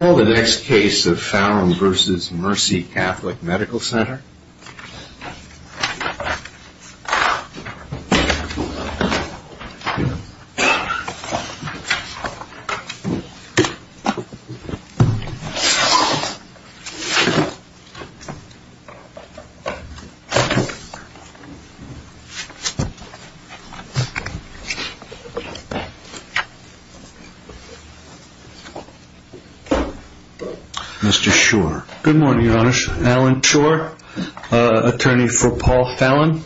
Now the next case of Falon v. Mercy Catholic Medical Center. Mr. Schor. Good morning, Your Honor. Alan Schor, attorney for Paul Falon.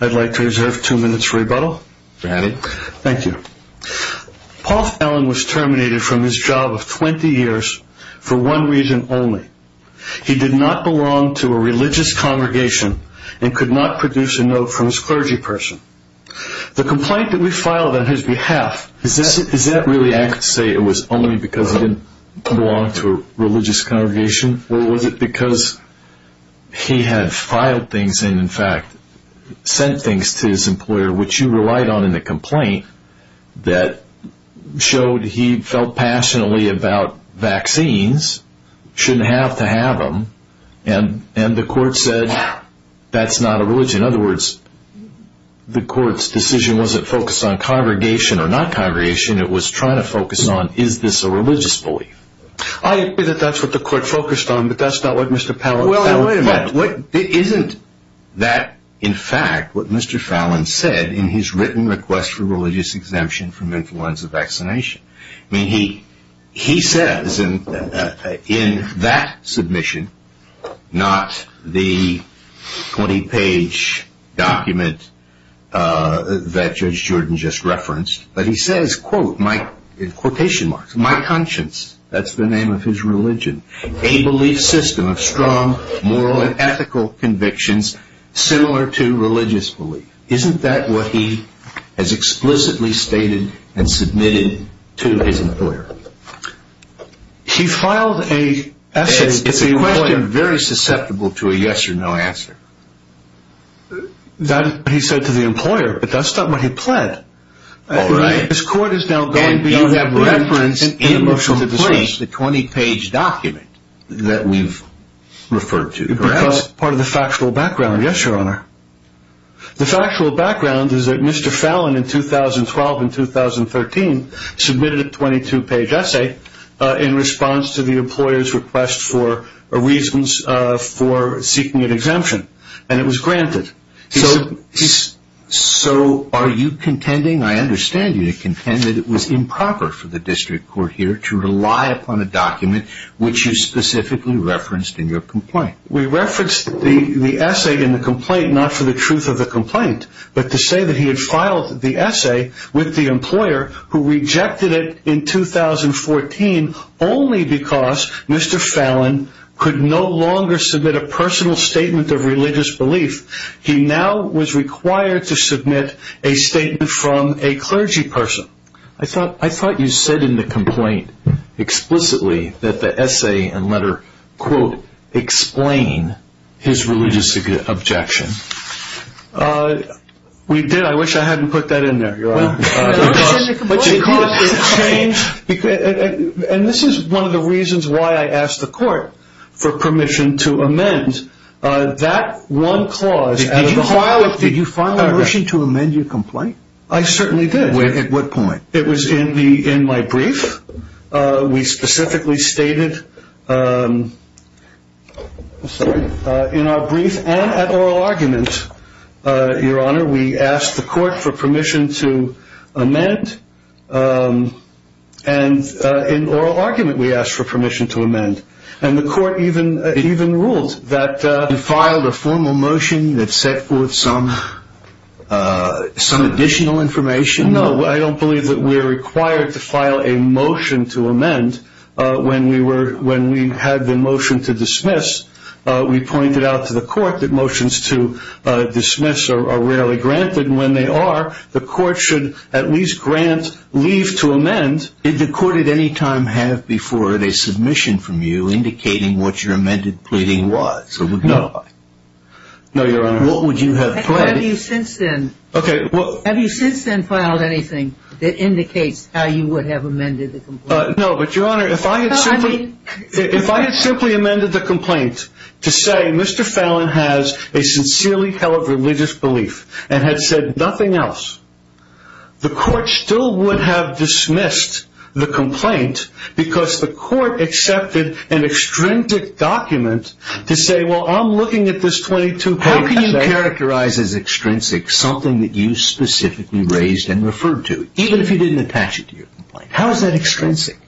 I'd like to reserve two minutes for rebuttal. Granted. Thank you. Paul Falon was terminated from his job of 20 years for one reason only. He did not belong to a religious congregation and could not produce a note from his clergy person. The complaint that we filed on his behalf, is that really I could say it was only because he didn't belong to a religious congregation? Or was it because he had filed things and, in fact, sent things to his employer, which you relied on in the complaint that showed he felt passionately about vaccines, shouldn't have to have them, and the court said that's not a religion. In other words, the court's decision wasn't focused on congregation or not congregation. It was trying to focus on is this a religious belief. I agree that that's what the court focused on, but that's not what Mr. Falon found. Well, wait a minute. Isn't that, in fact, what Mr. Falon said in his written request for religious exemption from influenza vaccination? I mean, he says in that submission, not the 20-page document that Judge Jordan just referenced, but he says, quote, in quotation marks, my conscience, that's the name of his religion, a belief system of strong moral and ethical convictions similar to religious belief. Isn't that what he has explicitly stated and submitted to his employer? He filed a essay to the employer. It's a question very susceptible to a yes or no answer. That's what he said to the employer, but that's not what he pled. All right. His court is now going to be referenced in the motion to displace the 20-page document that we've referred to. Because part of the factual background, yes, Your Honor. The factual background is that Mr. Falon, in 2012 and 2013, submitted a 22-page essay in response to the employer's request for reasons for seeking an exemption, and it was granted. So are you contending, I understand you contend, that it was improper for the district court here to rely upon a document which you specifically referenced in your complaint? We referenced the essay in the complaint not for the truth of the complaint, but to say that he had filed the essay with the employer who rejected it in 2014 only because Mr. Falon could no longer submit a personal statement of religious belief. He now was required to submit a statement from a clergy person. I thought you said in the complaint explicitly that the essay and letter, quote, explain his religious objection. We did. I wish I hadn't put that in there, Your Honor. And this is one of the reasons why I asked the court for permission to amend that one clause. Did you file a motion to amend your complaint? I certainly did. At what point? It was in my brief. We specifically stated in our brief and at oral argument, Your Honor, we asked the court for permission to amend, and in oral argument we asked for permission to amend. And the court even ruled that you filed a formal motion that set forth some additional information. No, I don't believe that we're required to file a motion to amend. When we had the motion to dismiss, we pointed out to the court that motions to dismiss are rarely granted, and when they are, the court should at least grant leave to amend. Did the court at any time have before it a submission from you indicating what your amended pleading was? No. No, Your Honor. What would you have pleaded? Have you since then filed anything that indicates how you would have amended the complaint? No, but, Your Honor, if I had simply amended the complaint to say Mr. Fallon has a sincerely held religious belief and had said nothing else, the court still would have dismissed the complaint because the court accepted an extrinsic document to say, well, I'm looking at this 22 page essay. How can you characterize as extrinsic something that you specifically raised and referred to, even if you didn't attach it to your complaint? How is that extrinsic?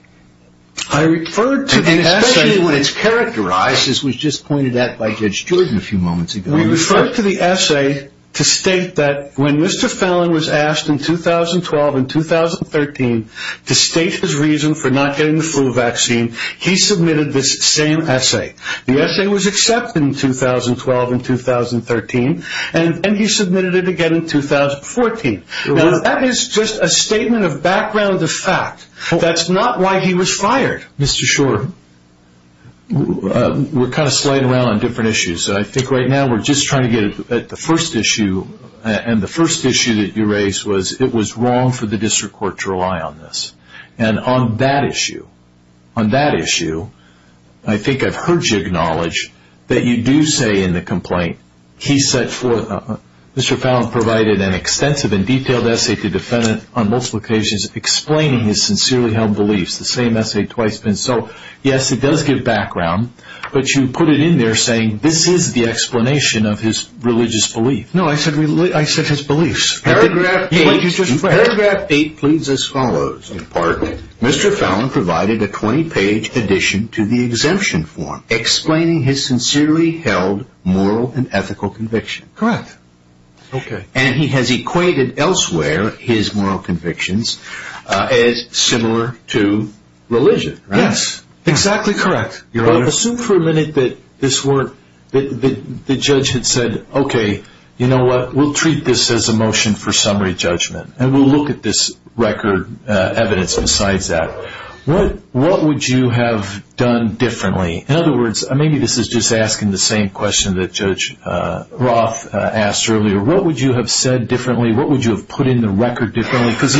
I referred to the essay. And especially when it's characterized, as was just pointed out by Judge Jordan a few moments ago. We referred to the essay to state that when Mr. Fallon was asked in 2012 and 2013 to state his reason for not getting the flu vaccine, he submitted this same essay. The essay was accepted in 2012 and 2013, and he submitted it again in 2014. Now, that is just a statement of background of fact. That's not why he was fired. Mr. Schor, we're kind of sliding around on different issues. I think right now we're just trying to get at the first issue, and the first issue that you raised was it was wrong for the district court to rely on this. And on that issue, I think I've heard you acknowledge that you do say in the complaint, Mr. Fallon provided an extensive and detailed essay to the defendant on multiple occasions explaining his sincerely held beliefs, the same essay twice. So, yes, it does give background, but you put it in there saying this is the explanation of his religious belief. No, I said his beliefs. Paragraph 8 pleads as follows in part. Mr. Fallon provided a 20-page addition to the exemption form explaining his sincerely held moral and ethical convictions. Correct. Okay. And he has equated elsewhere his moral convictions as similar to religion, right? Yes, exactly correct, Your Honor. Well, assume for a minute that the judge had said, okay, you know what, we'll treat this as a motion for summary judgment, and we'll look at this record evidence besides that. What would you have done differently? In other words, maybe this is just asking the same question that Judge Roth asked earlier. What would you have said differently? What would you have put in the record differently? Because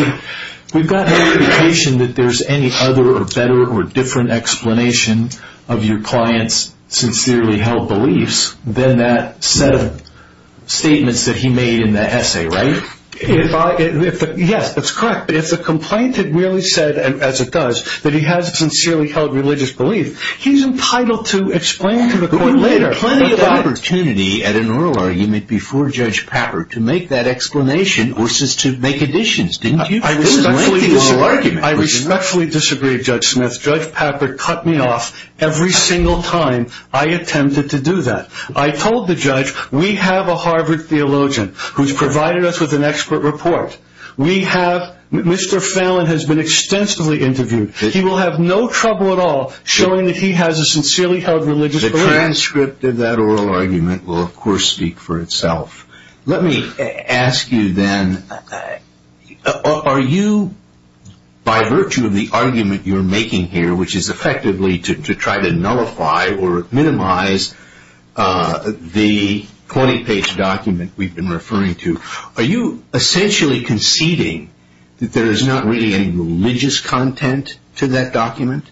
we've got an indication that there's any other or better or different explanation of your client's sincerely held beliefs than that set of statements that he made in that essay, right? Yes, that's correct. If the complaint had really said, as it does, that he has a sincerely held religious belief, he's entitled to explain to the court later. You had plenty of opportunity at an oral argument before Judge Pappert to make that explanation versus to make additions, didn't you? I respectfully disagree, Judge Smith. Judge Pappert cut me off every single time I attempted to do that. I told the judge, we have a Harvard theologian who's provided us with an expert report. Mr. Fallon has been extensively interviewed. He will have no trouble at all showing that he has a sincerely held religious belief. The transcript of that oral argument will, of course, speak for itself. Let me ask you then, are you, by virtue of the argument you're making here, which is effectively to try to nullify or minimize the 20-page document we've been referring to, are you essentially conceding that there is not really any religious content to that document?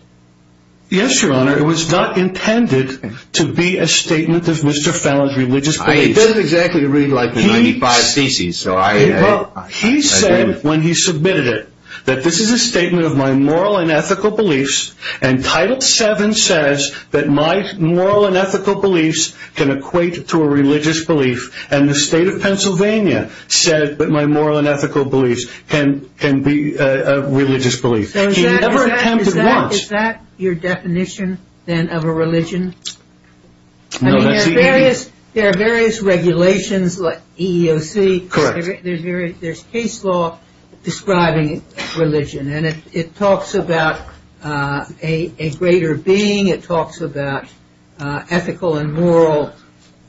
Yes, Your Honor, it was not intended to be a statement of Mr. Fallon's religious beliefs. It doesn't exactly read like the 95 theses. He said when he submitted it that this is a statement of my moral and ethical beliefs, and Title VII says that my moral and ethical beliefs can equate to a religious belief, and the State of Pennsylvania said that my moral and ethical beliefs can be a religious belief. So is that your definition, then, of a religion? No, that's EEOC. There are various regulations like EEOC. Correct. There's case law describing religion, and it talks about a greater being. It talks about ethical and moral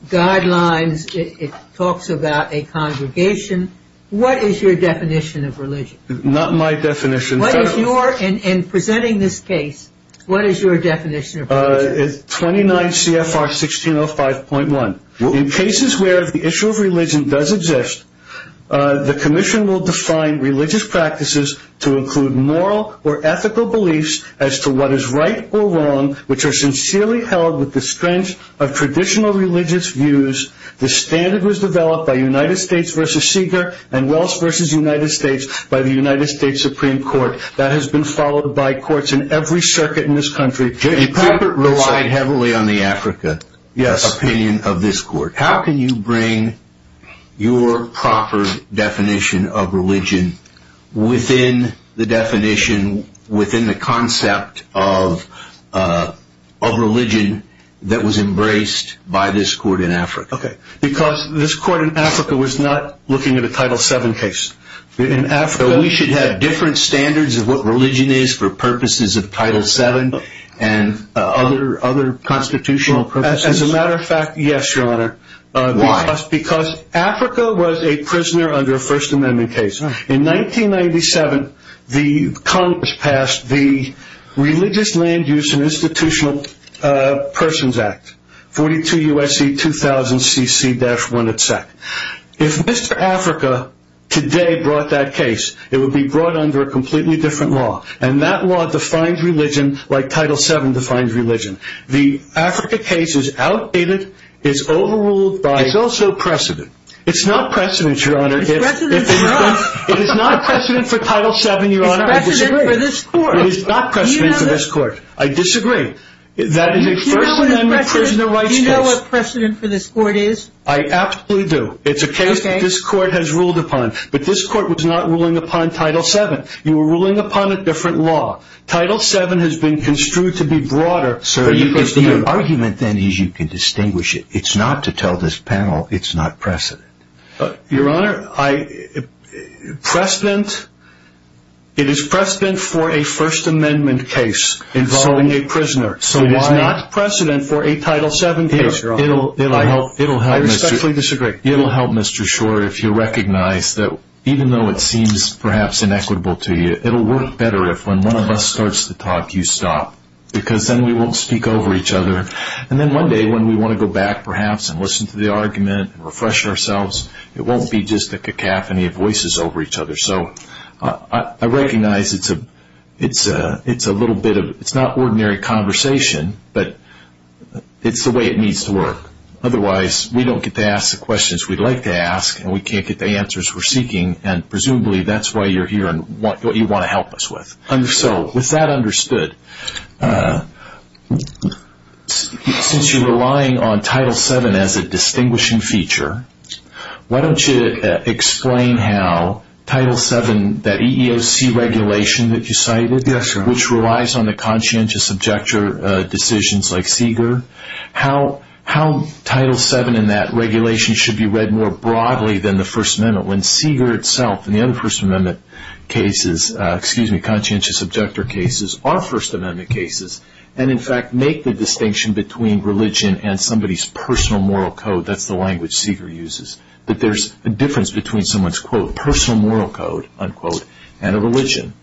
guidelines. It talks about a congregation. What is your definition of religion? Not my definition. In presenting this case, what is your definition of religion? 29 CFR 1605.1. In cases where the issue of religion does exist, the commission will define religious practices to include moral or ethical beliefs as to what is right or wrong, which are sincerely held with the strength of traditional religious views. The standard was developed by United States v. Seeger and Wells v. United States by the United States Supreme Court. That has been followed by courts in every circuit in this country. J.P. Harper relied heavily on the Africa opinion of this court. How can you bring your proper definition of religion within the definition, within the concept of religion that was embraced by this court in Africa? Okay. Because this court in Africa was not looking at a Title VII case. So we should have different standards of what religion is for purposes of Title VII and other constitutional purposes? As a matter of fact, yes, Your Honor. Why? Because Africa was a prisoner under a First Amendment case. In 1997, the Congress passed the Religious Land Use and Institutional Persons Act, 42 U.S.C. 2000 CC-1. If Mr. Africa today brought that case, it would be brought under a completely different law, and that law defines religion like Title VII defines religion. The Africa case is outdated, is overruled by... It's also precedent. It's not precedent, Your Honor. It's precedent for us. It is not precedent for Title VII, Your Honor. It's precedent for this court. It is not precedent for this court. I disagree. That is a First Amendment prisoner rights case. Do you know what precedent for this court is? I absolutely do. It's a case that this court has ruled upon. But this court was not ruling upon Title VII. You were ruling upon a different law. Title VII has been construed to be broader... Sir, the argument then is you can distinguish it. It's not to tell this panel it's not precedent. Your Honor, it is precedent for a First Amendment case involving a prisoner. So why... It is not precedent for a Title VII case, Your Honor. I respectfully disagree. It will help, Mr. Short, if you recognize that even though it seems perhaps inequitable to you, it will work better if when one of us starts to talk, you stop. Because then we won't speak over each other. And then one day when we want to go back perhaps and listen to the argument and refresh ourselves, it won't be just a cacophony of voices over each other. So I recognize it's a little bit of... It's not ordinary conversation, but it's the way it needs to work. Otherwise, we don't get to ask the questions we'd like to ask, and we can't get the answers we're seeking. And presumably that's why you're here and what you want to help us with. So with that understood, since you're relying on Title VII as a distinguishing feature, why don't you explain how Title VII, that EEOC regulation that you cited, which relies on the conscientious objector decisions like Seeger, how Title VII and that regulation should be read more broadly than the First Amendment. When Seeger itself and the other First Amendment cases, excuse me, conscientious objector cases are First Amendment cases, and in fact make the distinction between religion and somebody's personal moral code, that's the language Seeger uses, that there's a difference between someone's, quote, personal moral code, unquote, and a religion.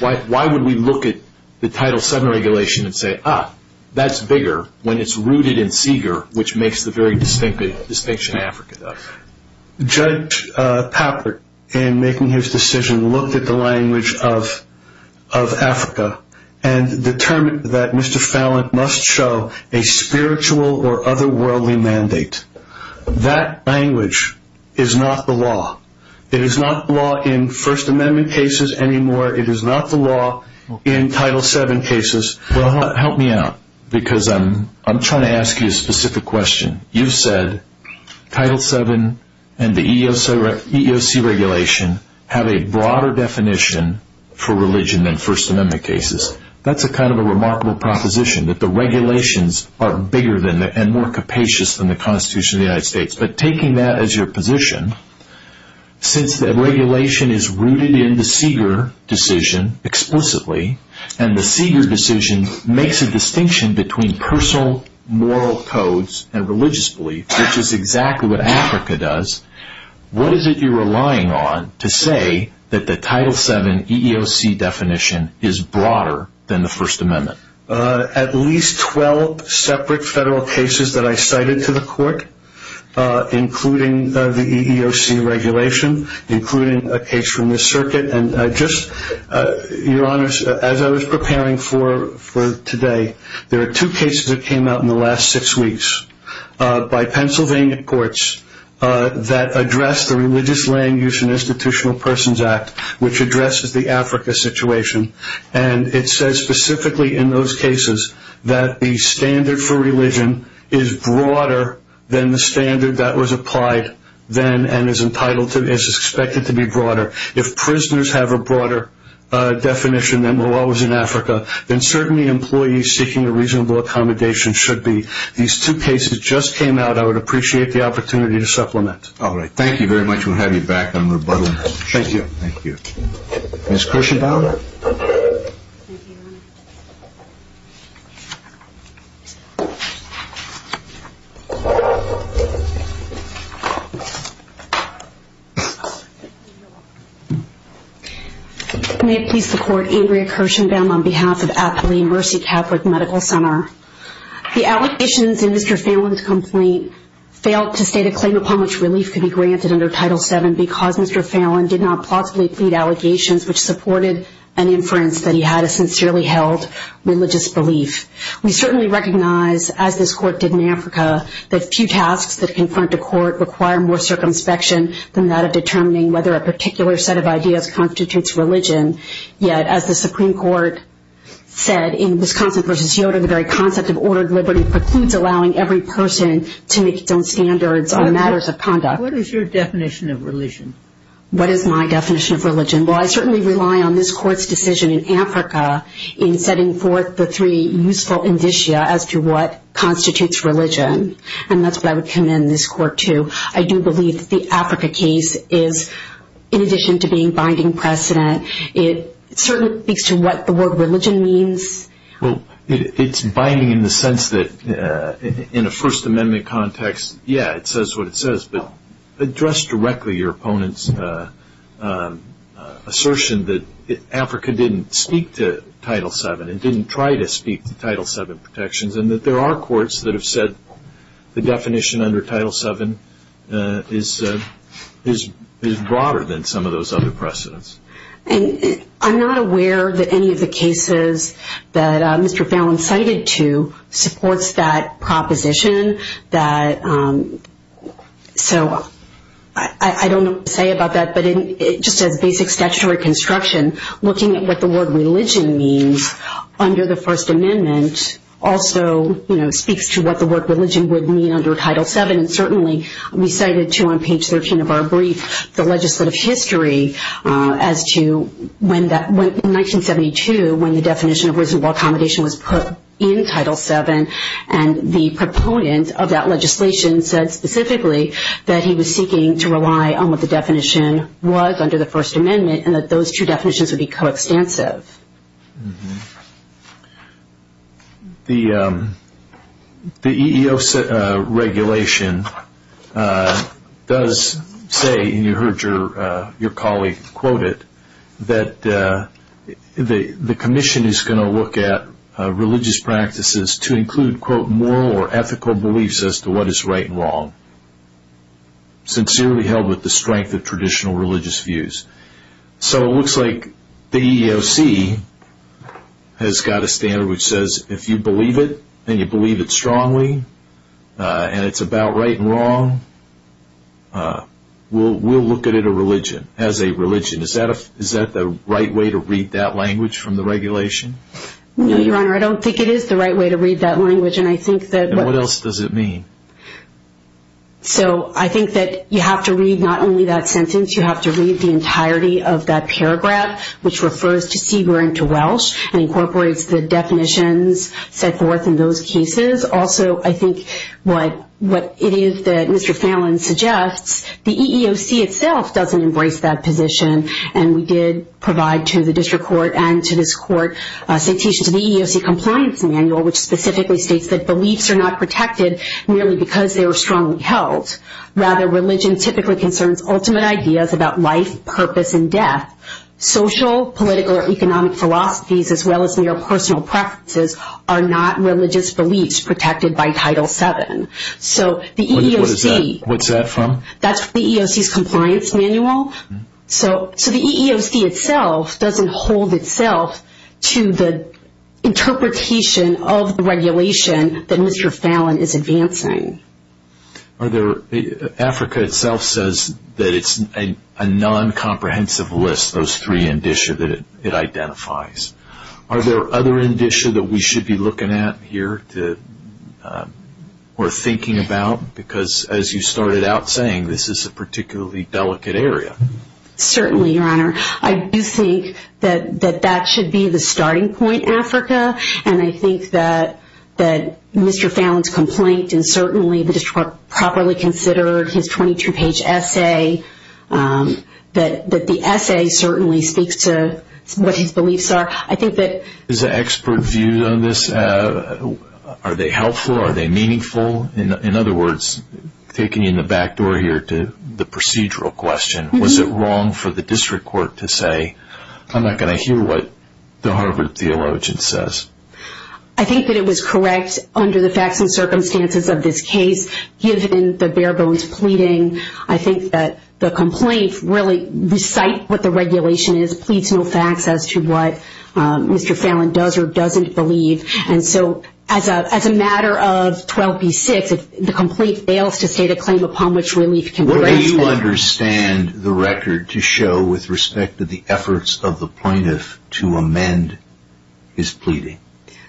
Why would we look at the Title VII regulation and say, ah, that's bigger, when it's rooted in Seeger, which makes the very distinct distinction Africa does? Judge Papert, in making his decision, looked at the language of Africa and determined that Mr. Fallon must show a spiritual or otherworldly mandate. That language is not the law. It is not the law in First Amendment cases anymore. It is not the law in Title VII cases. Well, help me out, because I'm trying to ask you a specific question. You've said Title VII and the EEOC regulation have a broader definition for religion than First Amendment cases. That's kind of a remarkable proposition, that the regulations are bigger and more capacious than the Constitution of the United States. But taking that as your position, since the regulation is rooted in the Seeger decision explicitly, and the Seeger decision makes a distinction between personal moral codes and religious beliefs, which is exactly what Africa does, what is it you're relying on to say that the Title VII EEOC definition is broader than the First Amendment? At least 12 separate federal cases that I cited to the court, including the EEOC regulation, including a case from the circuit. And just, Your Honors, as I was preparing for today, there are two cases that came out in the last six weeks by Pennsylvania courts that address the Religious Language and Institutional Persons Act, which addresses the Africa situation. And it says specifically in those cases that the standard for religion is broader than the standard that was applied then and is expected to be broader. If prisoners have a broader definition than the law was in Africa, then certainly employees seeking a reasonable accommodation should be. These two cases just came out. I would appreciate the opportunity to supplement. All right. Thank you very much. We'll have you back on rebuttal. Thank you. Ms. Kirshenbaum. May it please the Court, Andrea Kirshenbaum on behalf of Aptly Mercy Catholic Medical Center. The allegations in Mr. Fallon's complaint failed to state a claim upon which relief could be granted under Title VII because Mr. Fallon did not plausibly plead allegations which supported an inference that he had a sincerely held religious belief. We certainly recognize, as this Court did in Africa, that few tasks that confront a court require more circumspection than that of determining whether a particular set of ideas constitutes religion. Yet, as the Supreme Court said in Wisconsin v. Yoder, the very concept of ordered liberty precludes allowing every person to make its own standards on matters of conduct. What is your definition of religion? What is my definition of religion? Well, I certainly rely on this Court's decision in Africa in setting forth the three useful indicia as to what constitutes religion. And that's what I would commend this Court to. I do believe that the Africa case is, in addition to being binding precedent, it certainly speaks to what the word religion means. Well, it's binding in the sense that, in a First Amendment context, yeah, it says what it says. But address directly your opponent's assertion that Africa didn't speak to Title VII and didn't try to speak to Title VII protections, and that there are courts that have said the definition under Title VII is broader than some of those other precedents. And I'm not aware that any of the cases that Mr. Fallon cited to supports that proposition. So I don't know what to say about that. But just as basic statutory construction, looking at what the word religion means under the First Amendment also speaks to what the word religion would mean under Title VII. And certainly we cited, too, on page 13 of our brief, the legislative history as to, in 1972, when the definition of reasonable accommodation was put in Title VII, and the proponent of that legislation said specifically that he was seeking to rely on what the definition was under the First Amendment and that those two definitions would be coextensive. The EEOC regulation does say, and you heard your colleague quote it, that the commission is going to look at religious practices to include, quote, moral or ethical beliefs as to what is right and wrong, sincerely held with the strength of traditional religious views. So it looks like the EEOC has got a standard which says if you believe it, and you believe it strongly, and it's about right and wrong, we'll look at it as a religion. Is that the right way to read that language from the regulation? No, Your Honor, I don't think it is the right way to read that language. And what else does it mean? So I think that you have to read not only that sentence, you have to read the entirety of that paragraph, which refers to Seger and to Welsh and incorporates the definitions set forth in those cases. Also, I think what it is that Mr. Fallon suggests, the EEOC itself doesn't embrace that position, and we did provide to the district court and to this court a citation to the EEOC compliance manual, which specifically states that beliefs are not protected merely because they are strongly held. Rather, religion typically concerns ultimate ideas about life, purpose, and death. Social, political, or economic philosophies, as well as mere personal preferences, are not religious beliefs protected by Title VII. What's that from? That's the EEOC's compliance manual. So the EEOC itself doesn't hold itself to the interpretation of the regulation that Mr. Fallon is advancing. Africa itself says that it's a non-comprehensive list, those three indicia that it identifies. Are there other indicia that we should be looking at here or thinking about? Because as you started out saying, this is a particularly delicate area. Certainly, Your Honor. I do think that that should be the starting point, Africa, and I think that Mr. Fallon's complaint and certainly the district court properly considered his 22-page essay, that the essay certainly speaks to what his beliefs are. I think that as an expert view on this, are they helpful, are they meaningful? In other words, taking you in the back door here to the procedural question, was it wrong for the district court to say, I'm not going to hear what the Harvard theologian says? I think that it was correct under the facts and circumstances of this case. Given the bare bones pleading, I think that the complaint really recite what the regulation is, pleads no facts as to what Mr. Fallon does or doesn't believe. As a matter of 12b-6, the complaint fails to state a claim upon which relief can be granted. What do you understand the record to show with respect to the efforts of the plaintiff to amend his pleading?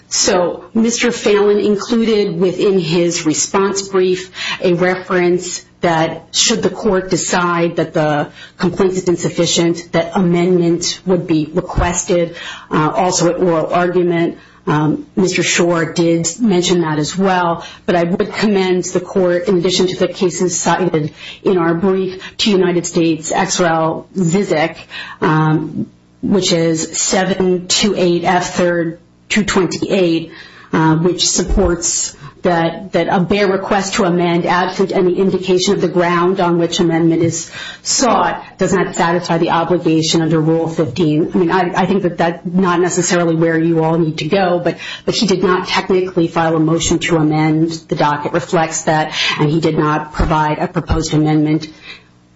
Mr. Fallon included within his response brief a reference that should the court decide that the complaint is insufficient, that amendments would be requested. Also at oral argument, Mr. Schor did mention that as well. But I would commend the court, in addition to the cases cited in our brief to United States, X-REL-VISC, which is 728F3-228, which supports that a bare request to amend absent any indication of the ground on which amendment is sought does not satisfy the obligation under Rule 15. I think that's not necessarily where you all need to go, but he did not technically file a motion to amend the docket, reflects that, and he did not provide a proposed amendment.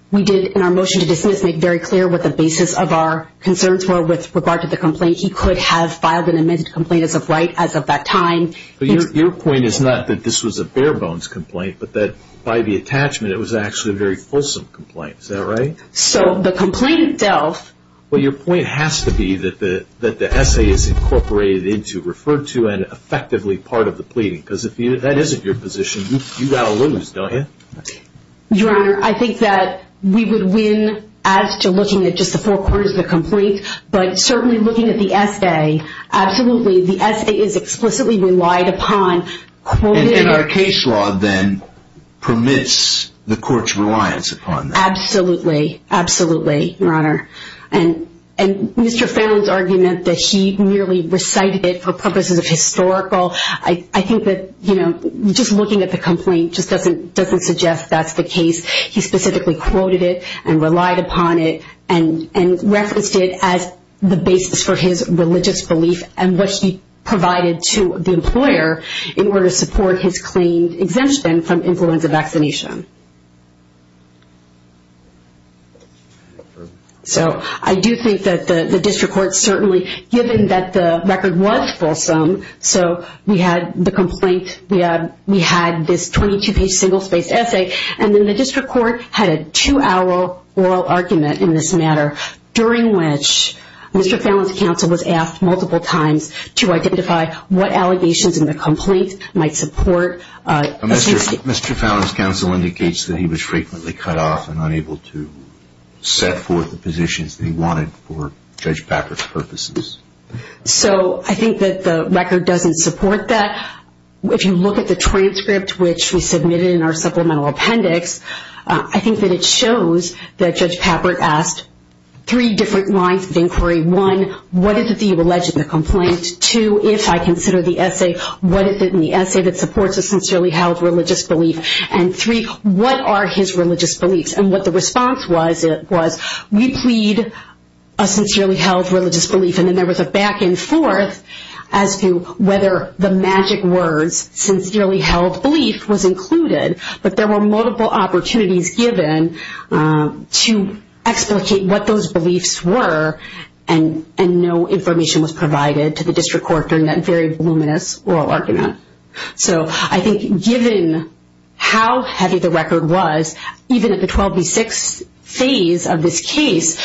We did, in our motion to dismiss, make very clear what the basis of our concerns were with regard to the complaint. He could have filed an amended complaint as of that time. Your point is not that this was a bare bones complaint, but that by the attachment it was actually a very fulsome complaint. Is that right? So the complaint itself. Well, your point has to be that the essay is incorporated into, referred to, and effectively part of the pleading. Because if that isn't your position, you've got to lose, don't you? Your Honor, I think that we would win as to looking at just the four quarters of the complaint, but certainly looking at the essay, absolutely. The essay is explicitly relied upon. And our case law then permits the court's reliance upon that. Absolutely. Absolutely, Your Honor. And Mr. Fallon's argument that he merely recited it for purposes of historical, I think that just looking at the complaint just doesn't suggest that's the case. He specifically quoted it and relied upon it and referenced it as the basis for his religious belief and what he provided to the employer in order to support his claimed exemption from influenza vaccination. So I do think that the district court certainly, given that the record was fulsome, so we had the complaint, we had this 22-page single-spaced essay, and then the district court had a two-hour oral argument in this matter, during which Mr. Fallon's counsel was asked multiple times to identify what allegations in the complaint might support. Mr. Fallon's counsel indicates that he was frequently cut off and unable to set forth the positions that he wanted for Judge Packard's purposes. So I think that the record doesn't support that. If you look at the transcript, which we submitted in our supplemental appendix, I think that it shows that Judge Packard asked three different lines of inquiry. One, what is it that you allege in the complaint? Two, if I consider the essay, what is it in the essay that supports a sincerely held religious belief? And three, what are his religious beliefs? And what the response was, it was, we plead a sincerely held religious belief. And then there was a back and forth as to whether the magic words, sincerely held belief, was included. But there were multiple opportunities given to explicate what those beliefs were, and no information was provided to the district court during that very voluminous oral argument. So I think given how heavy the record was, even at the 12 v. 6 phase of this case,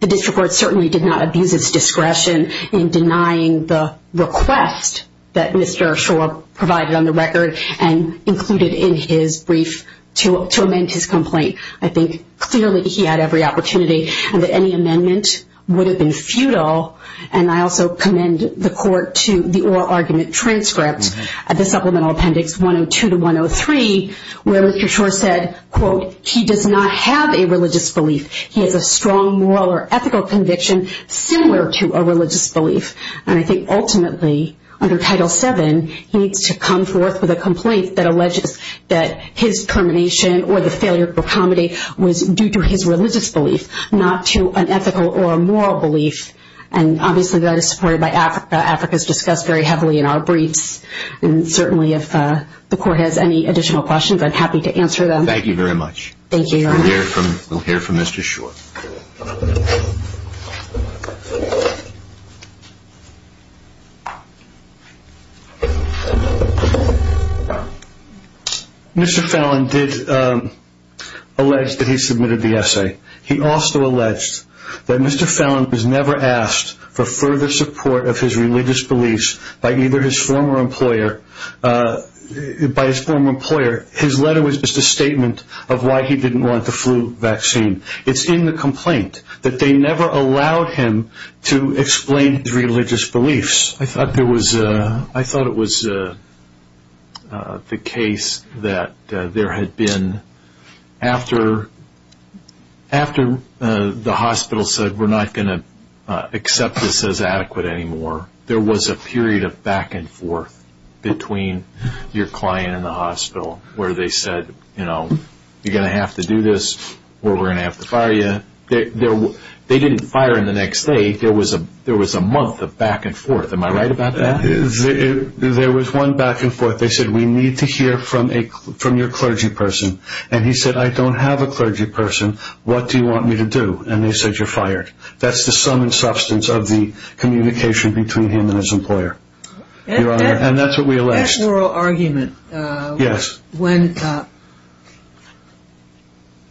the district court certainly did not abuse its discretion in denying the request that Mr. Schor provided on the record and included in his brief to amend his complaint. I think clearly he had every opportunity, and that any amendment would have been futile. And I also commend the court to the oral argument transcript at the supplemental appendix 102 to 103, where Mr. Schor said, quote, he does not have a religious belief. He has a strong moral or ethical conviction similar to a religious belief. And I think ultimately, under Title VII, he needs to come forth with a complaint that alleges that his termination or the failure to accommodate was due to his religious belief, not to an ethical or a moral belief. And obviously that is supported by Africa. Africa is discussed very heavily in our briefs. And certainly if the court has any additional questions, I'm happy to answer them. Thank you very much. Thank you. We'll hear from Mr. Schor. Mr. Fallon did allege that he submitted the essay. He also alleged that Mr. Fallon was never asked for further support of his religious beliefs by either his former employer. His letter was just a statement of why he didn't want the flu vaccine. It's in the complaint that they never allowed him to explain his religious beliefs. I thought it was the case that there had been, after the hospital said we're not going to accept this as adequate anymore, there was a period of back and forth between your client and the hospital where they said, you know, you're going to have to do this or we're going to have to fire you. They didn't fire him the next day. There was a month of back and forth. Am I right about that? There was one back and forth. They said, we need to hear from your clergy person. And he said, I don't have a clergy person. What do you want me to do? And they said, you're fired. That's the sum and substance of the communication between him and his employer. And that's what we alleged. That moral argument. Yes. When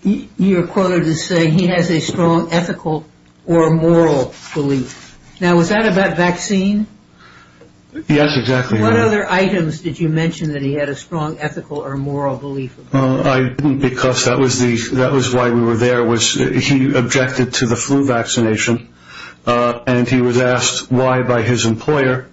you're quoted as saying he has a strong ethical or moral belief. Now, was that about vaccine? Yes, exactly. What other items did you mention that he had a strong ethical or moral belief? I didn't because that was why we were there. He objected to the flu vaccination. And he was asked why by his employer.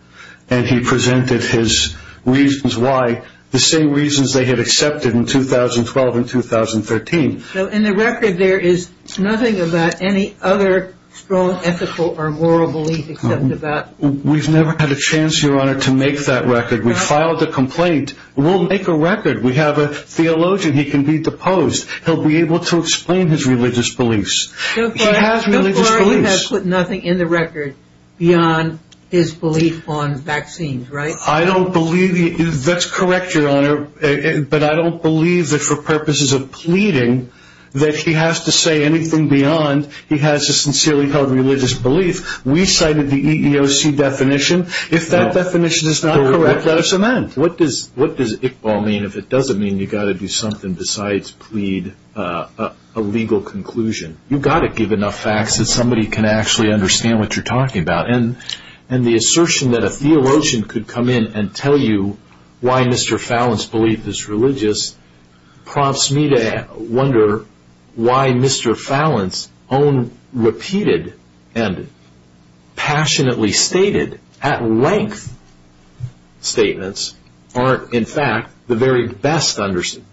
And he presented his reasons why, the same reasons they had accepted in 2012 and 2013. So in the record there is nothing about any other strong ethical or moral belief except about. We've never had a chance, Your Honor, to make that record. We filed a complaint. We'll make a record. We have a theologian. He can be deposed. He'll be able to explain his religious beliefs. He has religious beliefs. The employer has put nothing in the record beyond his belief on vaccines, right? I don't believe that's correct, Your Honor. But I don't believe that for purposes of pleading that he has to say anything beyond he has a sincerely held religious belief. We cited the EEOC definition. If that definition is not correct, let us amend. What does Iqbal mean if it doesn't mean you've got to do something besides plead a legal conclusion? You've got to give enough facts that somebody can actually understand what you're talking about. And the assertion that a theologian could come in and tell you why Mr. Fallon's belief is religious prompts me to wonder why Mr. Fallon's own repeated and passionately stated at length statements aren't, in fact, the very best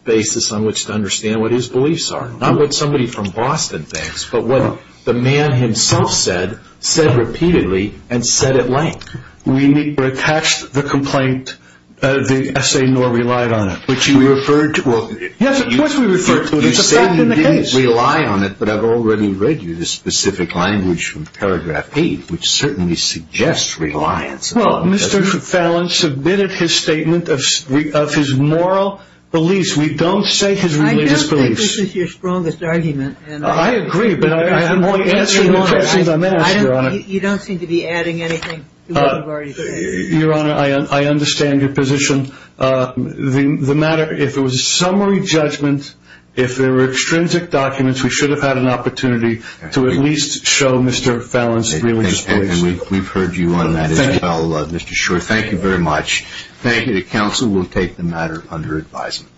basis on which to understand what his beliefs are. Not what somebody from Boston thinks, but what the man himself said, said repeatedly and said at length. We neither attached the complaint, the essay, nor relied on it. Which you referred to? Yes, of course we referred to it. It's a fact in the case. You say you didn't rely on it, but I've already read you the specific language from paragraph eight, which certainly suggests reliance upon it. Well, Mr. Fallon submitted his statement of his moral beliefs. We don't say his religious beliefs. I don't think this is your strongest argument. I agree, but I have a more answering question than that, Your Honor. You don't seem to be adding anything to what you've already said. Your Honor, I understand your position. The matter, if it was a summary judgment, if there were extrinsic documents, we should have had an opportunity to at least show Mr. Fallon's religious beliefs. We've heard you on that as well, Mr. Shor. Thank you very much. Thank you to counsel. We'll take the matter under advisement.